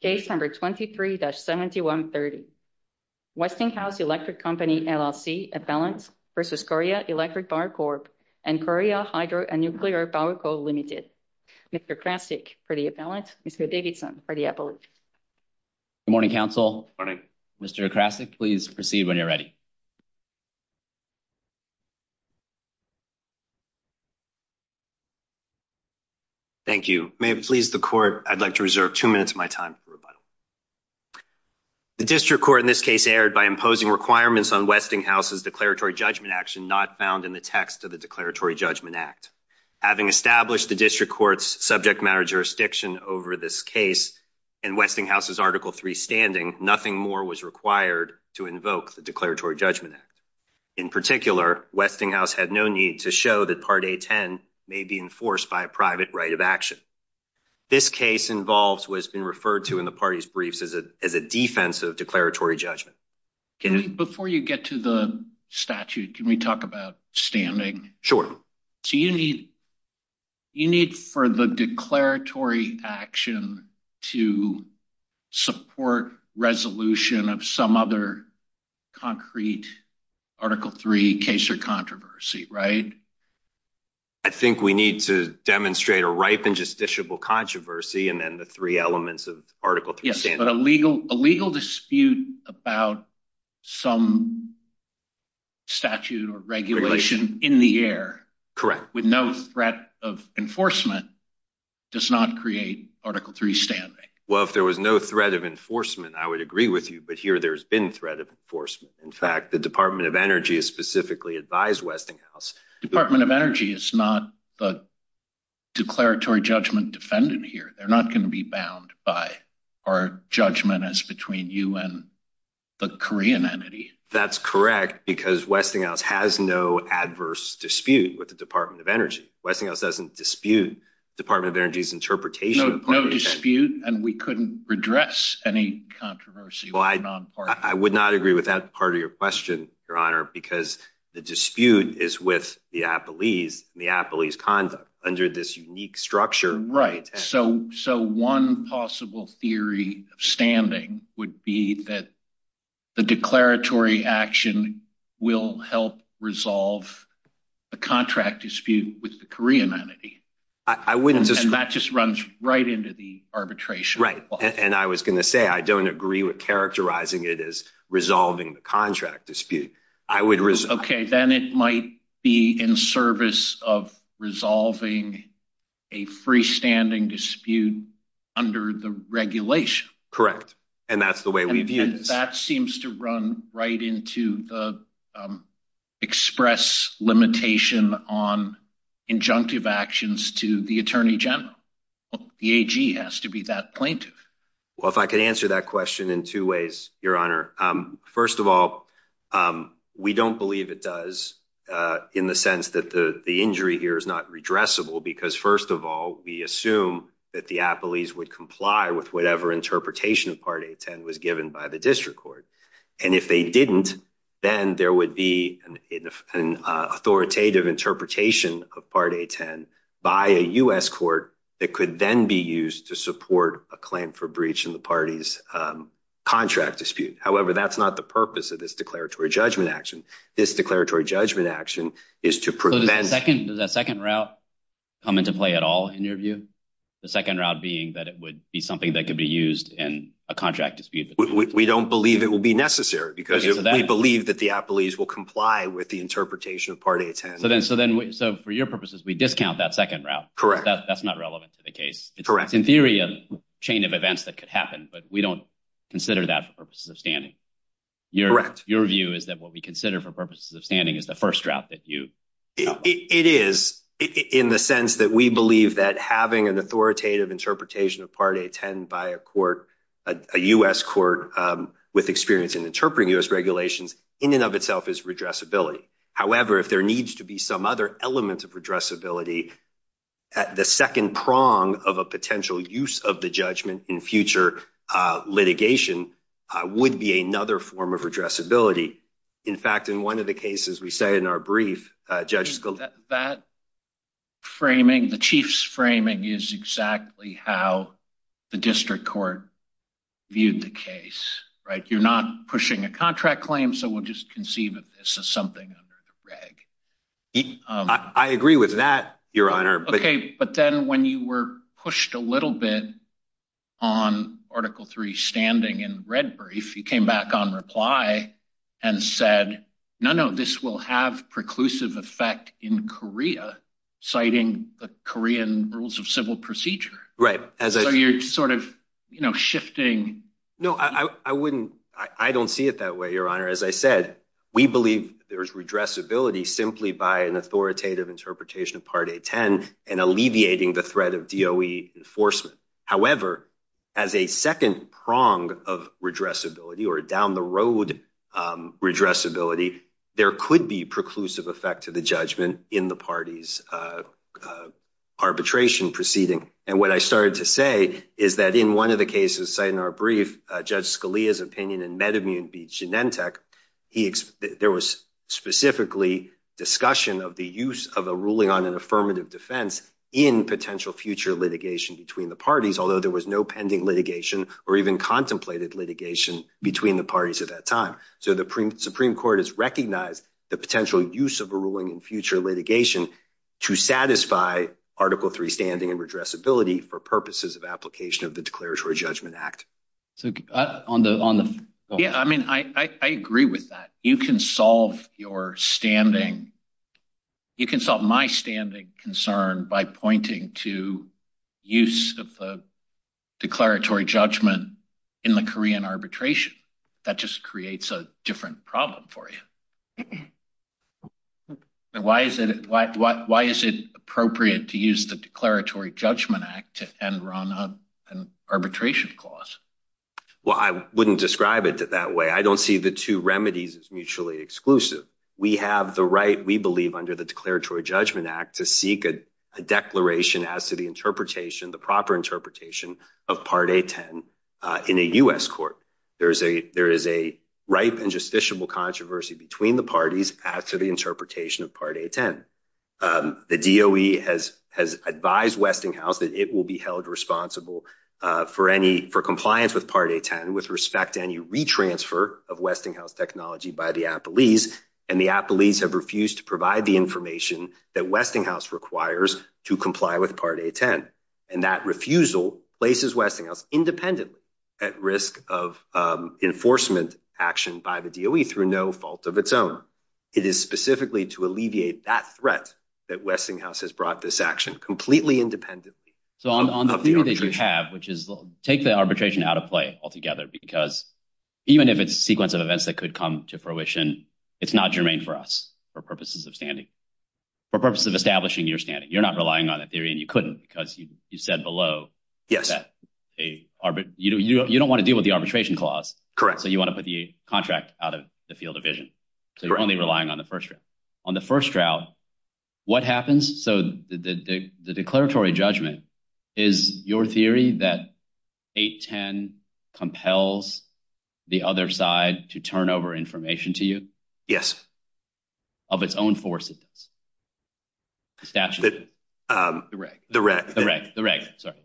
Case number 23-7130, Westinghouse Electric Company, LLC, Appellant versus Korea Electric Power Corp and Korea Hydro and Nuclear Power Co. Ltd. Mr. Krasick for the appellant, Mr. Davidson for the appellate. Good morning, counsel. Morning. Mr. Krasick, please proceed when you're ready. Thank you. May it please the court, I'd like to reserve two minutes of my time for rebuttal. The district court in this case erred by imposing requirements on Westinghouse's declaratory judgment action not found in the text of the Declaratory Judgment Act. Having established the district court's subject matter jurisdiction over this case in Westinghouse's Article III standing, nothing more was required to invoke the Declaratory Judgment Act. In particular, Westinghouse had no need to show that Part A-10 may be enforced by a private right of action. This case involves what has been referred to in the party's briefs as a defensive declaratory judgment. Can I- Before you get to the statute, can we talk about standing? Sure. So you need for the declaratory action to support resolution of some other concrete Article III case or controversy, right? I think we need to demonstrate a ripe and justiciable controversy and then the three elements of Article III standing. Yes, but a legal dispute about some statute or regulation in the air- With no threat of enforcement does not create Article III standing. Well, if there was no threat of enforcement, I would agree with you, but here there's been threat of enforcement. In fact, the Department of Energy has specifically advised Westinghouse Department of Energy is not the declaratory judgment defendant here. They're not going to be bound by our judgment as between you and the Korean entity. That's correct, because Westinghouse has no adverse dispute with the Department of Energy. Westinghouse doesn't dispute Department of Energy's interpretation of Part A-10. No dispute, and we couldn't redress any controversy with a non-partner. I would not agree with that part of your question, Your Honor, because the dispute is with the Appalese and the Appalese conduct under this unique structure. Right, so one possible theory of standing would be that the declaratory action will help resolve the contract dispute with the Korean entity. I wouldn't- And that just runs right into the arbitration. Right, and I was going to say, I don't agree with characterizing it as resolving the contract dispute. I would- Okay, then it might be in service of resolving a freestanding dispute under the regulation. Correct, and that's the way we view this. That seems to run right into the express limitation on injunctive actions to the Attorney General. The AG has to be that plaintiff. Well, if I could answer that question in two ways, Your Honor. First of all, we don't believe it does in the sense that the injury here is not redressable because first of all, we assume that the Appalese would comply with whatever interpretation of Part 810 was given by the district court. And if they didn't, then there would be an authoritative interpretation of Part 810 by a U.S. court that could then be used to support a claim for breach in the party's contract dispute. However, that's not the purpose of this declaratory judgment action. This declaratory judgment action is to prevent- So does that second route come into play at all in your view? The second route being that it would be something that could be used in a contract dispute? We don't believe it will be necessary because we believe that the Appalese will comply with the interpretation of Part 810. So then for your purposes, we discount that second route. Correct. That's not relevant to the case. It's in theory a chain of events that could happen, but we don't consider that for purposes of standing. Correct. Your view is that what we consider for purposes of standing is the first route that you- It is in the sense that we believe that having an authoritative interpretation of Part 810 by a court, a U.S. court with experience in interpreting U.S. regulations in and of itself is redressability. However, if there needs to be some other element of redressability, the second prong of a potential use of the judgment in future litigation would be another form of redressability. In fact, in one of the cases we say in our brief, Judge- That framing, the Chief's framing is exactly how the district court viewed the case, right? You're not pushing a contract claim, so we'll just conceive of this as something under the reg. I agree with that, Your Honor, but- Okay, but then when you were pushed a little bit on Article 3 standing in the red brief, you came back on reply and said, no, no, this will have preclusive effect in Korea, citing the Korean rules of civil procedure. Right, as I- So you're sort of, you know, shifting- No, I wouldn't, I don't see it that way, Your Honor. As I said, we believe there's redressability simply by an authoritative interpretation of Part A10 and alleviating the threat of DOE enforcement. However, as a second prong of redressability or down-the-road redressability, there could be preclusive effect to the judgment in the party's arbitration proceeding. And what I started to say is that in one of the cases cited in our brief, Judge Scalia's opinion in Medimune v. Genentech, there was specifically discussion of the use of a ruling on an affirmative defense in potential future litigation between the parties, although there was no pending litigation or even contemplated litigation between the parties at that time. So the Supreme Court has recognized the potential use of a ruling in future litigation to satisfy Article 3 standing and redressability for purposes of application of the Declaratory Judgment Act. So on the- Yeah, I mean, I agree with that. You can solve your standing, you can solve my standing concern by pointing to use of the Declaratory Judgment in the Korean arbitration. That just creates a different problem for you. Why is it appropriate to use the Declaratory Judgment Act and run an arbitration clause? Well, I wouldn't describe it that way. I don't see the two remedies as mutually exclusive. We have the right, we believe, under the Declaratory Judgment Act to seek a declaration as to the interpretation, the proper interpretation of Part A10 in a U.S. court. There is a ripe and justiciable controversy between the parties as to the interpretation of Part A10. The DOE has advised Westinghouse that it will be held responsible for compliance with Part A10 with respect to any retransfer of Westinghouse technology by the appellees. And the appellees have refused to provide the information that Westinghouse requires to comply with Part A10. And that refusal places Westinghouse independently at risk of enforcement action by the DOE through no fault of its own. It is specifically to alleviate that threat that Westinghouse has brought this action completely independently. So on the theory that you have, which is take the arbitration out of play altogether, because even if it's a sequence of events that could come to fruition, it's not germane for us for purposes of standing, for purposes of establishing your standing. You're not relying on a theory and you couldn't because you said below that you don't wanna deal with the arbitration clause. Correct. So you wanna put the contract out of the field of vision. So you're only relying on the first round. On the first round, what happens? So the declaratory judgment is your theory that 810 compels the other side to turn over information to you? Of its own force, it does. Statute. The reg. The reg. The reg, sorry.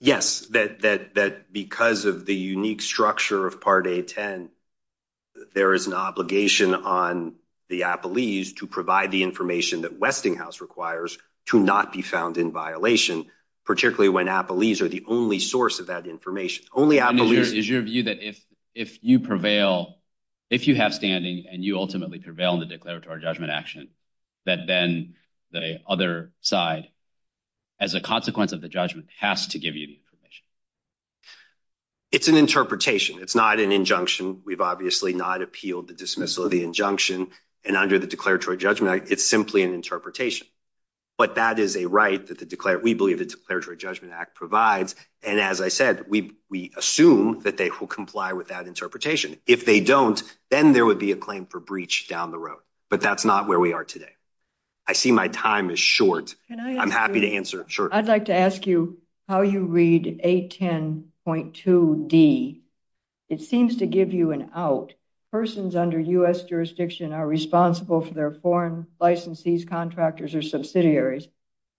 Yes, that because of the unique structure of Part A10, there is an obligation on the appellees to provide the information that Westinghouse requires to not be found in violation, particularly when appellees are the only source of that information. Only appellees. Is your view that if you prevail, if you have standing and you ultimately prevail in the declaratory judgment action, that then the other side, as a consequence of the judgment, has to give you the information? It's an interpretation. It's not an injunction. We've obviously not appealed the dismissal of the injunction and under the declaratory judgment act, it's simply an interpretation. But that is a right that the declaratory, we believe the declaratory judgment act provides. And as I said, we assume that they will comply with that interpretation. If they don't, then there would be a claim for breach down the road. But that's not where we are today. I see my time is short. I'm happy to answer, sure. I'd like to ask you how you read 810.2D. It seems to give you an out. Persons under U.S. jurisdiction are responsible for their foreign licensees, contractors, or subsidiaries.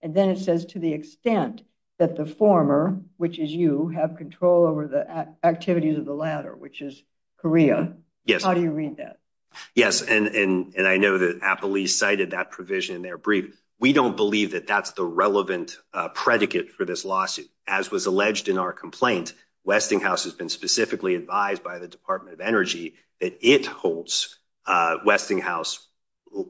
And then it says to the extent that the former, which is you, have control over the activities of the latter, which is Korea. Yes. How do you read that? Yes, and I know that Appley cited that provision in their brief. We don't believe that that's the relevant predicate for this lawsuit. As was alleged in our complaint, Westinghouse has been specifically advised by the Department of Energy that it holds Westinghouse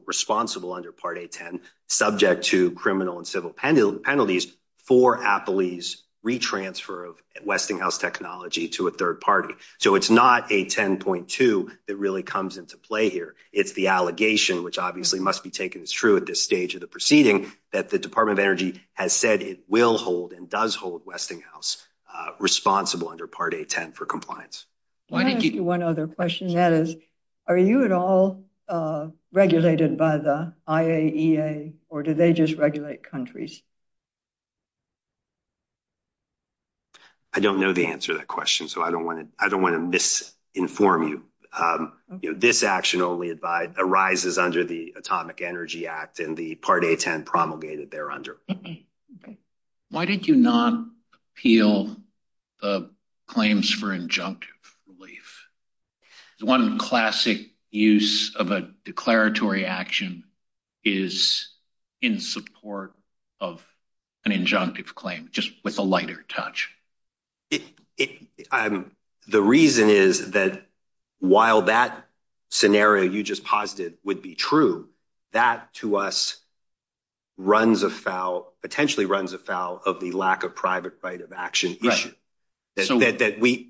responsible under Part 810, subject to criminal and civil penalties for Appley's retransfer of Westinghouse technology to a third party. So it's not 810.2 that really comes into play here. It's the allegation, which obviously must be taken as true at this stage of the proceeding, that the Department of Energy has said it will hold and does hold Westinghouse responsible under Part 810 for compliance. Can I ask you one other question? That is, are you at all regulated by the IAEA or do they just regulate countries? I don't know the answer to that question. So I don't wanna misinform you. This action only arises under the Atomic Energy Act and the Part 810 promulgated there under. Why did you not appeal the claims for injunctive relief? The one classic use of a declaratory action is in support of an injunctive claim, just with a lighter touch. The reason is that while that scenario you just posited would be true, that to us runs afoul, potentially runs afoul of the lack of private right of action issue. So in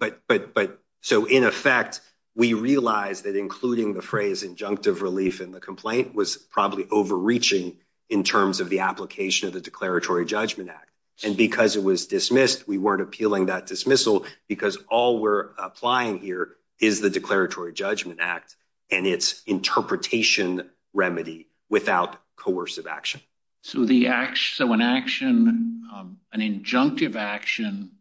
effect, we realized that including the phrase injunctive relief in the complaint was probably overreaching in terms of the application of the Declaratory Judgment Act. And because it was dismissed, we weren't appealing that dismissal because all we're applying here is the Declaratory Judgment Act and its interpretation remedy without coercive action. So an action, an injunctive action,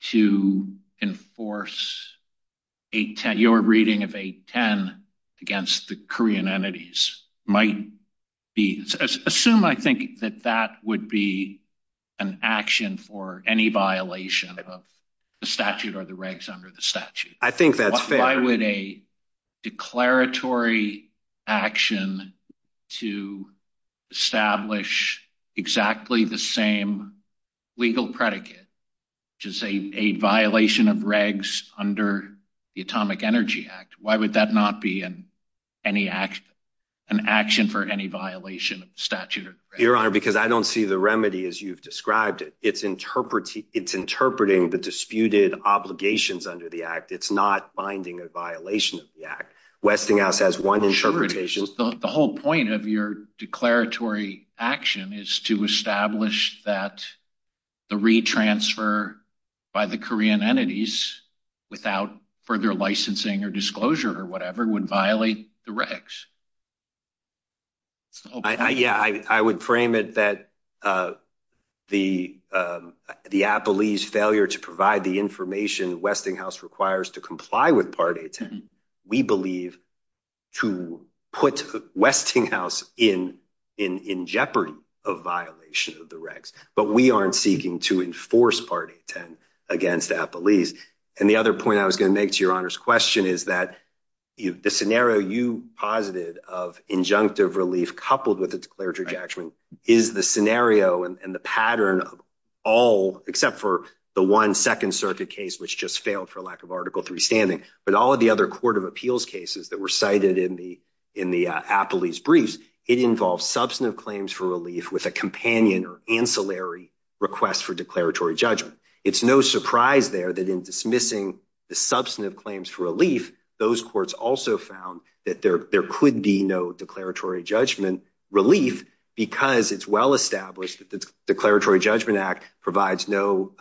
to enforce 810, your reading of 810 against the Korean entities might be, assume I think that that would be an action for any violation of the statute or the regs under the statute. I think that's fair. Why would a declaratory action to establish exactly the same legal predicate, just a violation of regs under the Atomic Energy Act, why would that not be an action for any violation of the statute? Your Honor, because I don't see the remedy as you've described it. It's interpreting the disputed obligations under the act. It's not binding a violation of the act. Westinghouse has one interpretation. The whole point of your declaratory action is to establish that the re-transfer by the Korean entities without further licensing or disclosure or whatever would violate the regs. Yeah, I would frame it that the Appellee's failure to provide the information Westinghouse requires to comply with Part 810, we believe to put Westinghouse in jeopardy of violation of the regs, but we aren't seeking to enforce Part 810 against Appellee's. And the other point I was gonna make to your Honor's question is that the scenario you posited of injunctive relief coupled with a declaratory action is the scenario and the pattern of all, except for the one Second Circuit case, which just failed for lack of Article III standing, but all of the other Court of Appeals cases that were cited in the Appellee's briefs, it involves substantive claims for relief with a companion or ancillary request for declaratory judgment. It's no surprise there that in dismissing the substantive claims for relief, those courts also found that there could be no declaratory judgment relief because it's well-established that the Declaratory Judgment Act provides no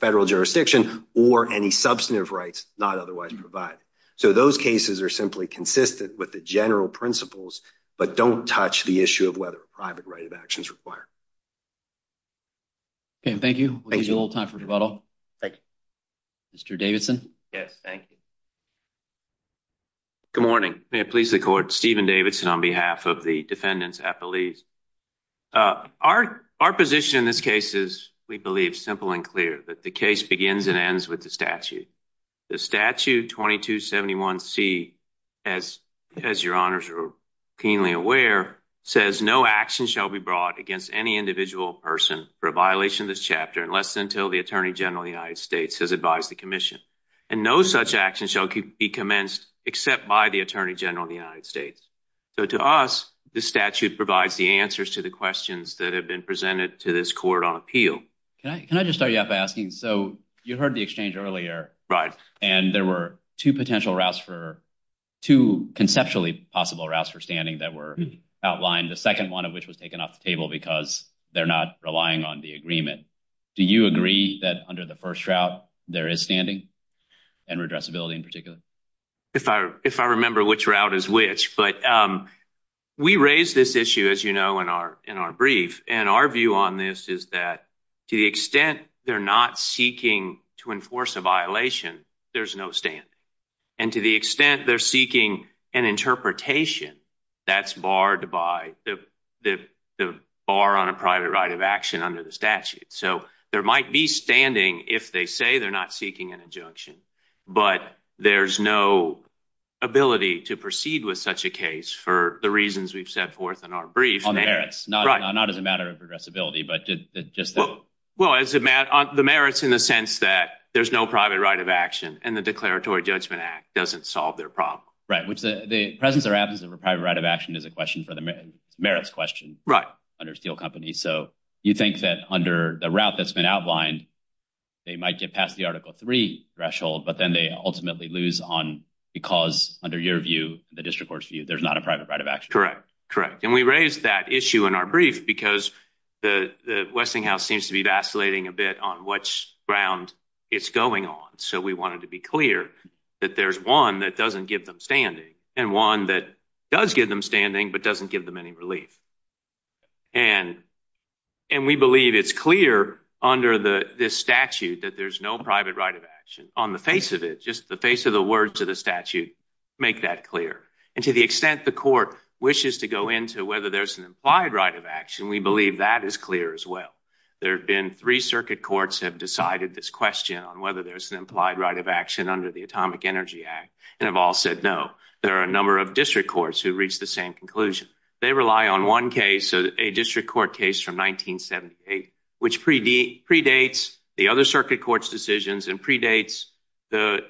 federal jurisdiction or any substantive rights not otherwise provided. So those cases are simply consistent with the general principles, but don't touch the issue of whether a private right of action is required. Okay, and thank you. We'll use a little time for rebuttal. Thank you. Mr. Davidson. Yes, thank you. Good morning. May it please the Court, Steven Davidson on behalf of the Defendant's Appellees. Our position in this case is, we believe, simple and clear, that the case begins and ends with the statute. The statute 2271C, as your honors are keenly aware, says no action shall be brought against any individual person for a violation of this chapter unless until the Attorney General of the United States has advised the Commission. And no such action shall be commenced except by the Attorney General of the United States. So to us, the statute provides the answers to the questions that have been presented to this Court on appeal. Can I just start you off by asking, so you heard the exchange earlier. And there were two potential routes for, two conceptually possible routes for standing that were outlined, the second one of which was taken off the table because they're not relying on the agreement. Do you agree that under the first route there is standing and redressability in particular? If I remember which route is which, but we raised this issue, as you know, in our brief. And our view on this is that to the extent they're not seeking to enforce a violation, there's no standing. And to the extent they're seeking an interpretation, that's barred by the bar on a private right of action under the statute. So there might be standing if they say they're not seeking an injunction, but there's no ability to proceed with such a case for the reasons we've set forth in our brief. On merits, not as a matter of redressability, but just the- Well, the merits in the sense that there's no private right of action and the Declaratory Judgment Act doesn't solve their problem. Right, which the presence or absence of a private right of action is a question for the merits question under Steel Company. So you think that under the route that's been outlined, they might get past the Article III threshold, but then they ultimately lose on, because under your view, the district court's view, there's not a private right of action. Correct, correct. And we raised that issue in our brief because the Westinghouse seems to be vacillating a bit on which ground it's going on. So we wanted to be clear that there's one that doesn't give them standing and one that does give them standing, but doesn't give them any relief. And we believe it's clear under this statute that there's no private right of action on the face of it, just the face of the words of the statute make that clear. And to the extent the court wishes to go into whether there's an implied right of action, we believe that is clear as well. There've been three circuit courts have decided this question on whether there's an implied right of action under the Atomic Energy Act, and have all said no. There are a number of district courts who reached the same conclusion. They rely on one case, a district court case from 1978, which predates the other circuit court's decisions and predates the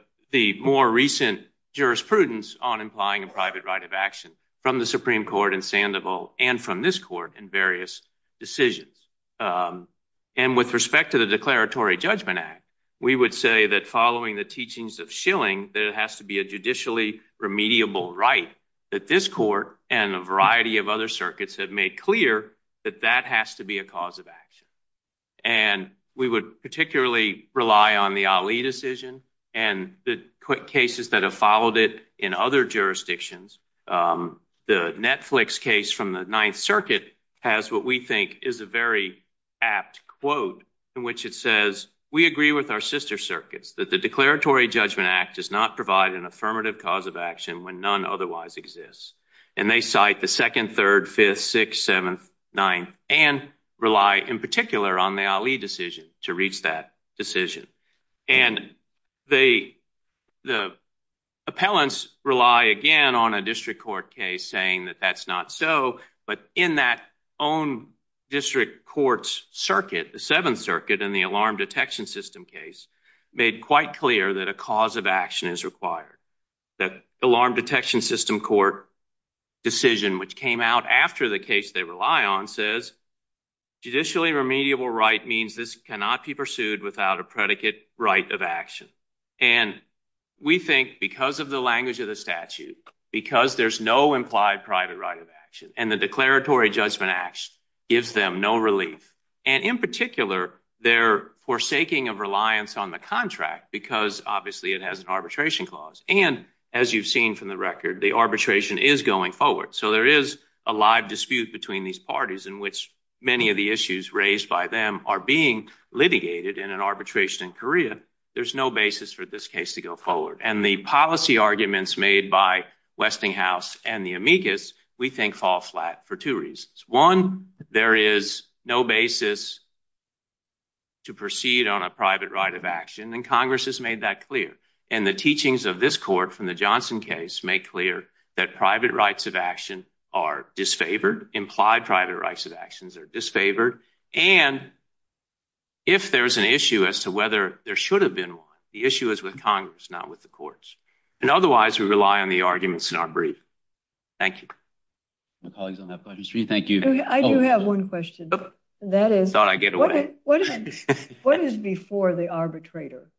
more recent jurisprudence on implying a private right of action from the Supreme Court in Sandoval and from this court in various decisions. And with respect to the Declaratory Judgment Act, we would say that following the teachings of Schilling, that it has to be a judicially remediable right that this court and a variety of other circuits have made clear that that has to be a cause of action. And we would particularly rely on the Ali decision and the quick cases that have followed it in other jurisdictions. The Netflix case from the Ninth Circuit has what we think is a very apt quote in which it says, we agree with our sister circuits that the Declaratory Judgment Act does not provide an affirmative cause of action when none otherwise exists. And they cite the second, third, fifth, sixth, seventh, ninth, and rely in particular on the Ali decision to reach that decision. And the appellants rely again on a district court case saying that that's not so, but in that own district court's circuit, the Seventh Circuit in the alarm detection system case, made quite clear that a cause of action is required. That alarm detection system court decision, which came out after the case they rely on says, judicially remediable right means this cannot be pursued without a predicate right of action. And we think because of the language of the statute, because there's no implied private right of action and the Declaratory Judgment Act gives them no relief. And in particular, their forsaking of reliance on the contract because obviously it has an arbitration clause. And as you've seen from the record, the arbitration is going forward. So there is a live dispute between these parties in which many of the issues raised by them are being litigated in an arbitration in Korea. There's no basis for this case to go forward. And the policy arguments made by Westinghouse and the amicus, we think fall flat for two reasons. One, there is no basis to proceed on a private right of action. And Congress has made that clear. And the teachings of this court from the Johnson case make clear that private rights of action are disfavored, implied private rights of actions are disfavored and if there's an issue as to whether there should have been one, the issue is with Congress, not with the courts. And otherwise we rely on the arguments in our brief. Thank you. My colleagues on that budget stream, thank you. I do have one question. That is, what is before the arbitrator?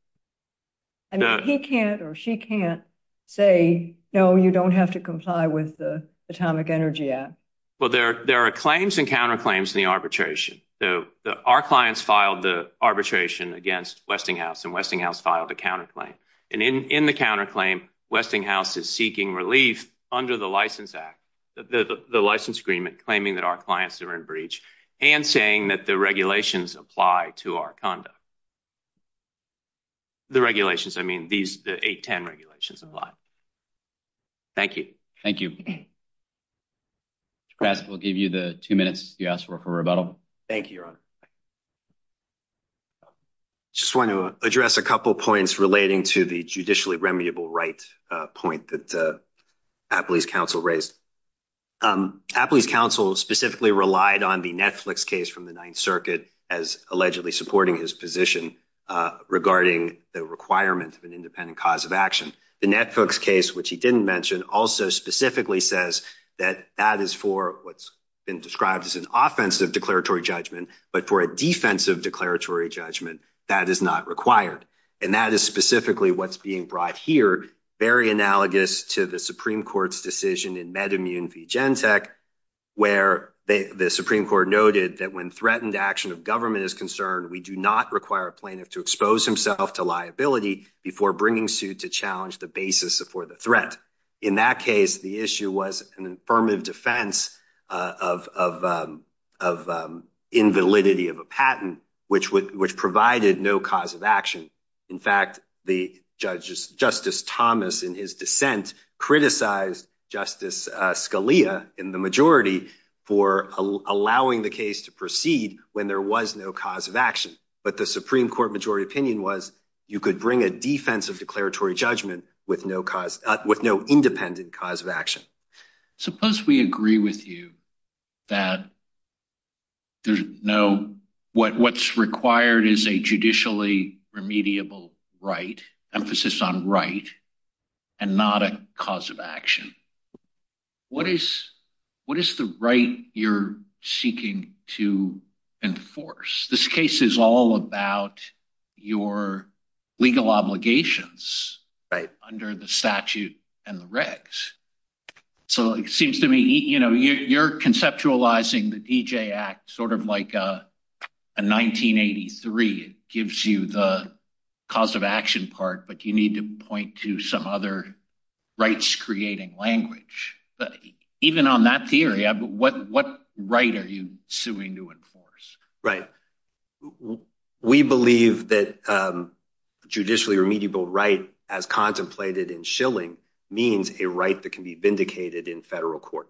I mean, he can't or she can't say, no, you don't have to comply with the Atomic Energy Act. Well, there are claims and counterclaims in the arbitration. So our clients filed the arbitration against Westinghouse and Westinghouse filed a counterclaim. And in the counterclaim, Westinghouse is seeking relief under the license act, the license agreement, claiming that our clients are in breach and saying that the regulations apply to our conduct. The regulations, I mean, these 810 regulations apply. Thank you. Thank you. Mr. Krasick, we'll give you the two minutes you asked for for rebuttal. Thank you, Your Honor. Just want to address a couple of points relating to the judicially remediable right point that Appley's counsel raised. Appley's counsel specifically relied on the Netflix case from the Ninth Circuit as allegedly supporting his position regarding the requirement of an independent cause of action. The Netflix case, which he didn't mention, also specifically says that that is for what's been described as an offensive declaratory judgment, but for a defensive declaratory judgment, that is not required. And that is specifically what's being brought here, very analogous to the Supreme Court's decision in MedImmune v. Gentech, where the Supreme Court noted that when threatened action of government is concerned, we do not require a plaintiff to expose himself to liability before bringing suit to challenge the basis for the threat. In that case, the issue was an affirmative defense of invalidity of a patent, which provided no cause of action. In fact, Justice Thomas, in his dissent, criticized Justice Scalia in the majority for allowing the case to proceed when there was no cause of action. But the Supreme Court majority opinion was you could bring a defensive declaratory judgment with no independent cause of action. Suppose we agree with you that what's required is a judicially remediable right, emphasis on right, and not a cause of action. What is the right you're seeking to enforce? This case is all about your legal obligations. Right. Under the statute and the regs. So it seems to me, you're conceptualizing the D.J. Act sort of like a 1983. It gives you the cause of action part, but you need to point to some other rights-creating language. Even on that theory, what right are you suing to enforce? Right. We believe that a judicially remediable right, as contemplated in Schilling, means a right that can be vindicated in federal court.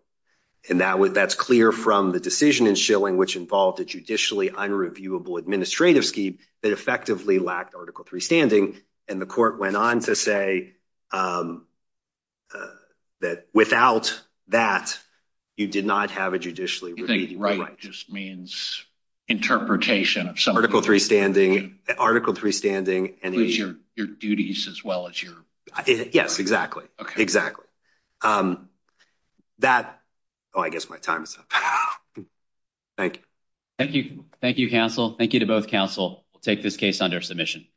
And that's clear from the decision in Schilling, which involved a judicially unreviewable administrative scheme that effectively lacked Article III standing. And the court went on to say that without that, you did not have a judicially remediable right. So it just means interpretation of some- Article III standing. Article III standing and the- Includes your duties as well as your- Yes, exactly. Exactly. That, oh, I guess my time is up. Thank you. Thank you, counsel. Thank you to both counsel. We'll take this case under submission.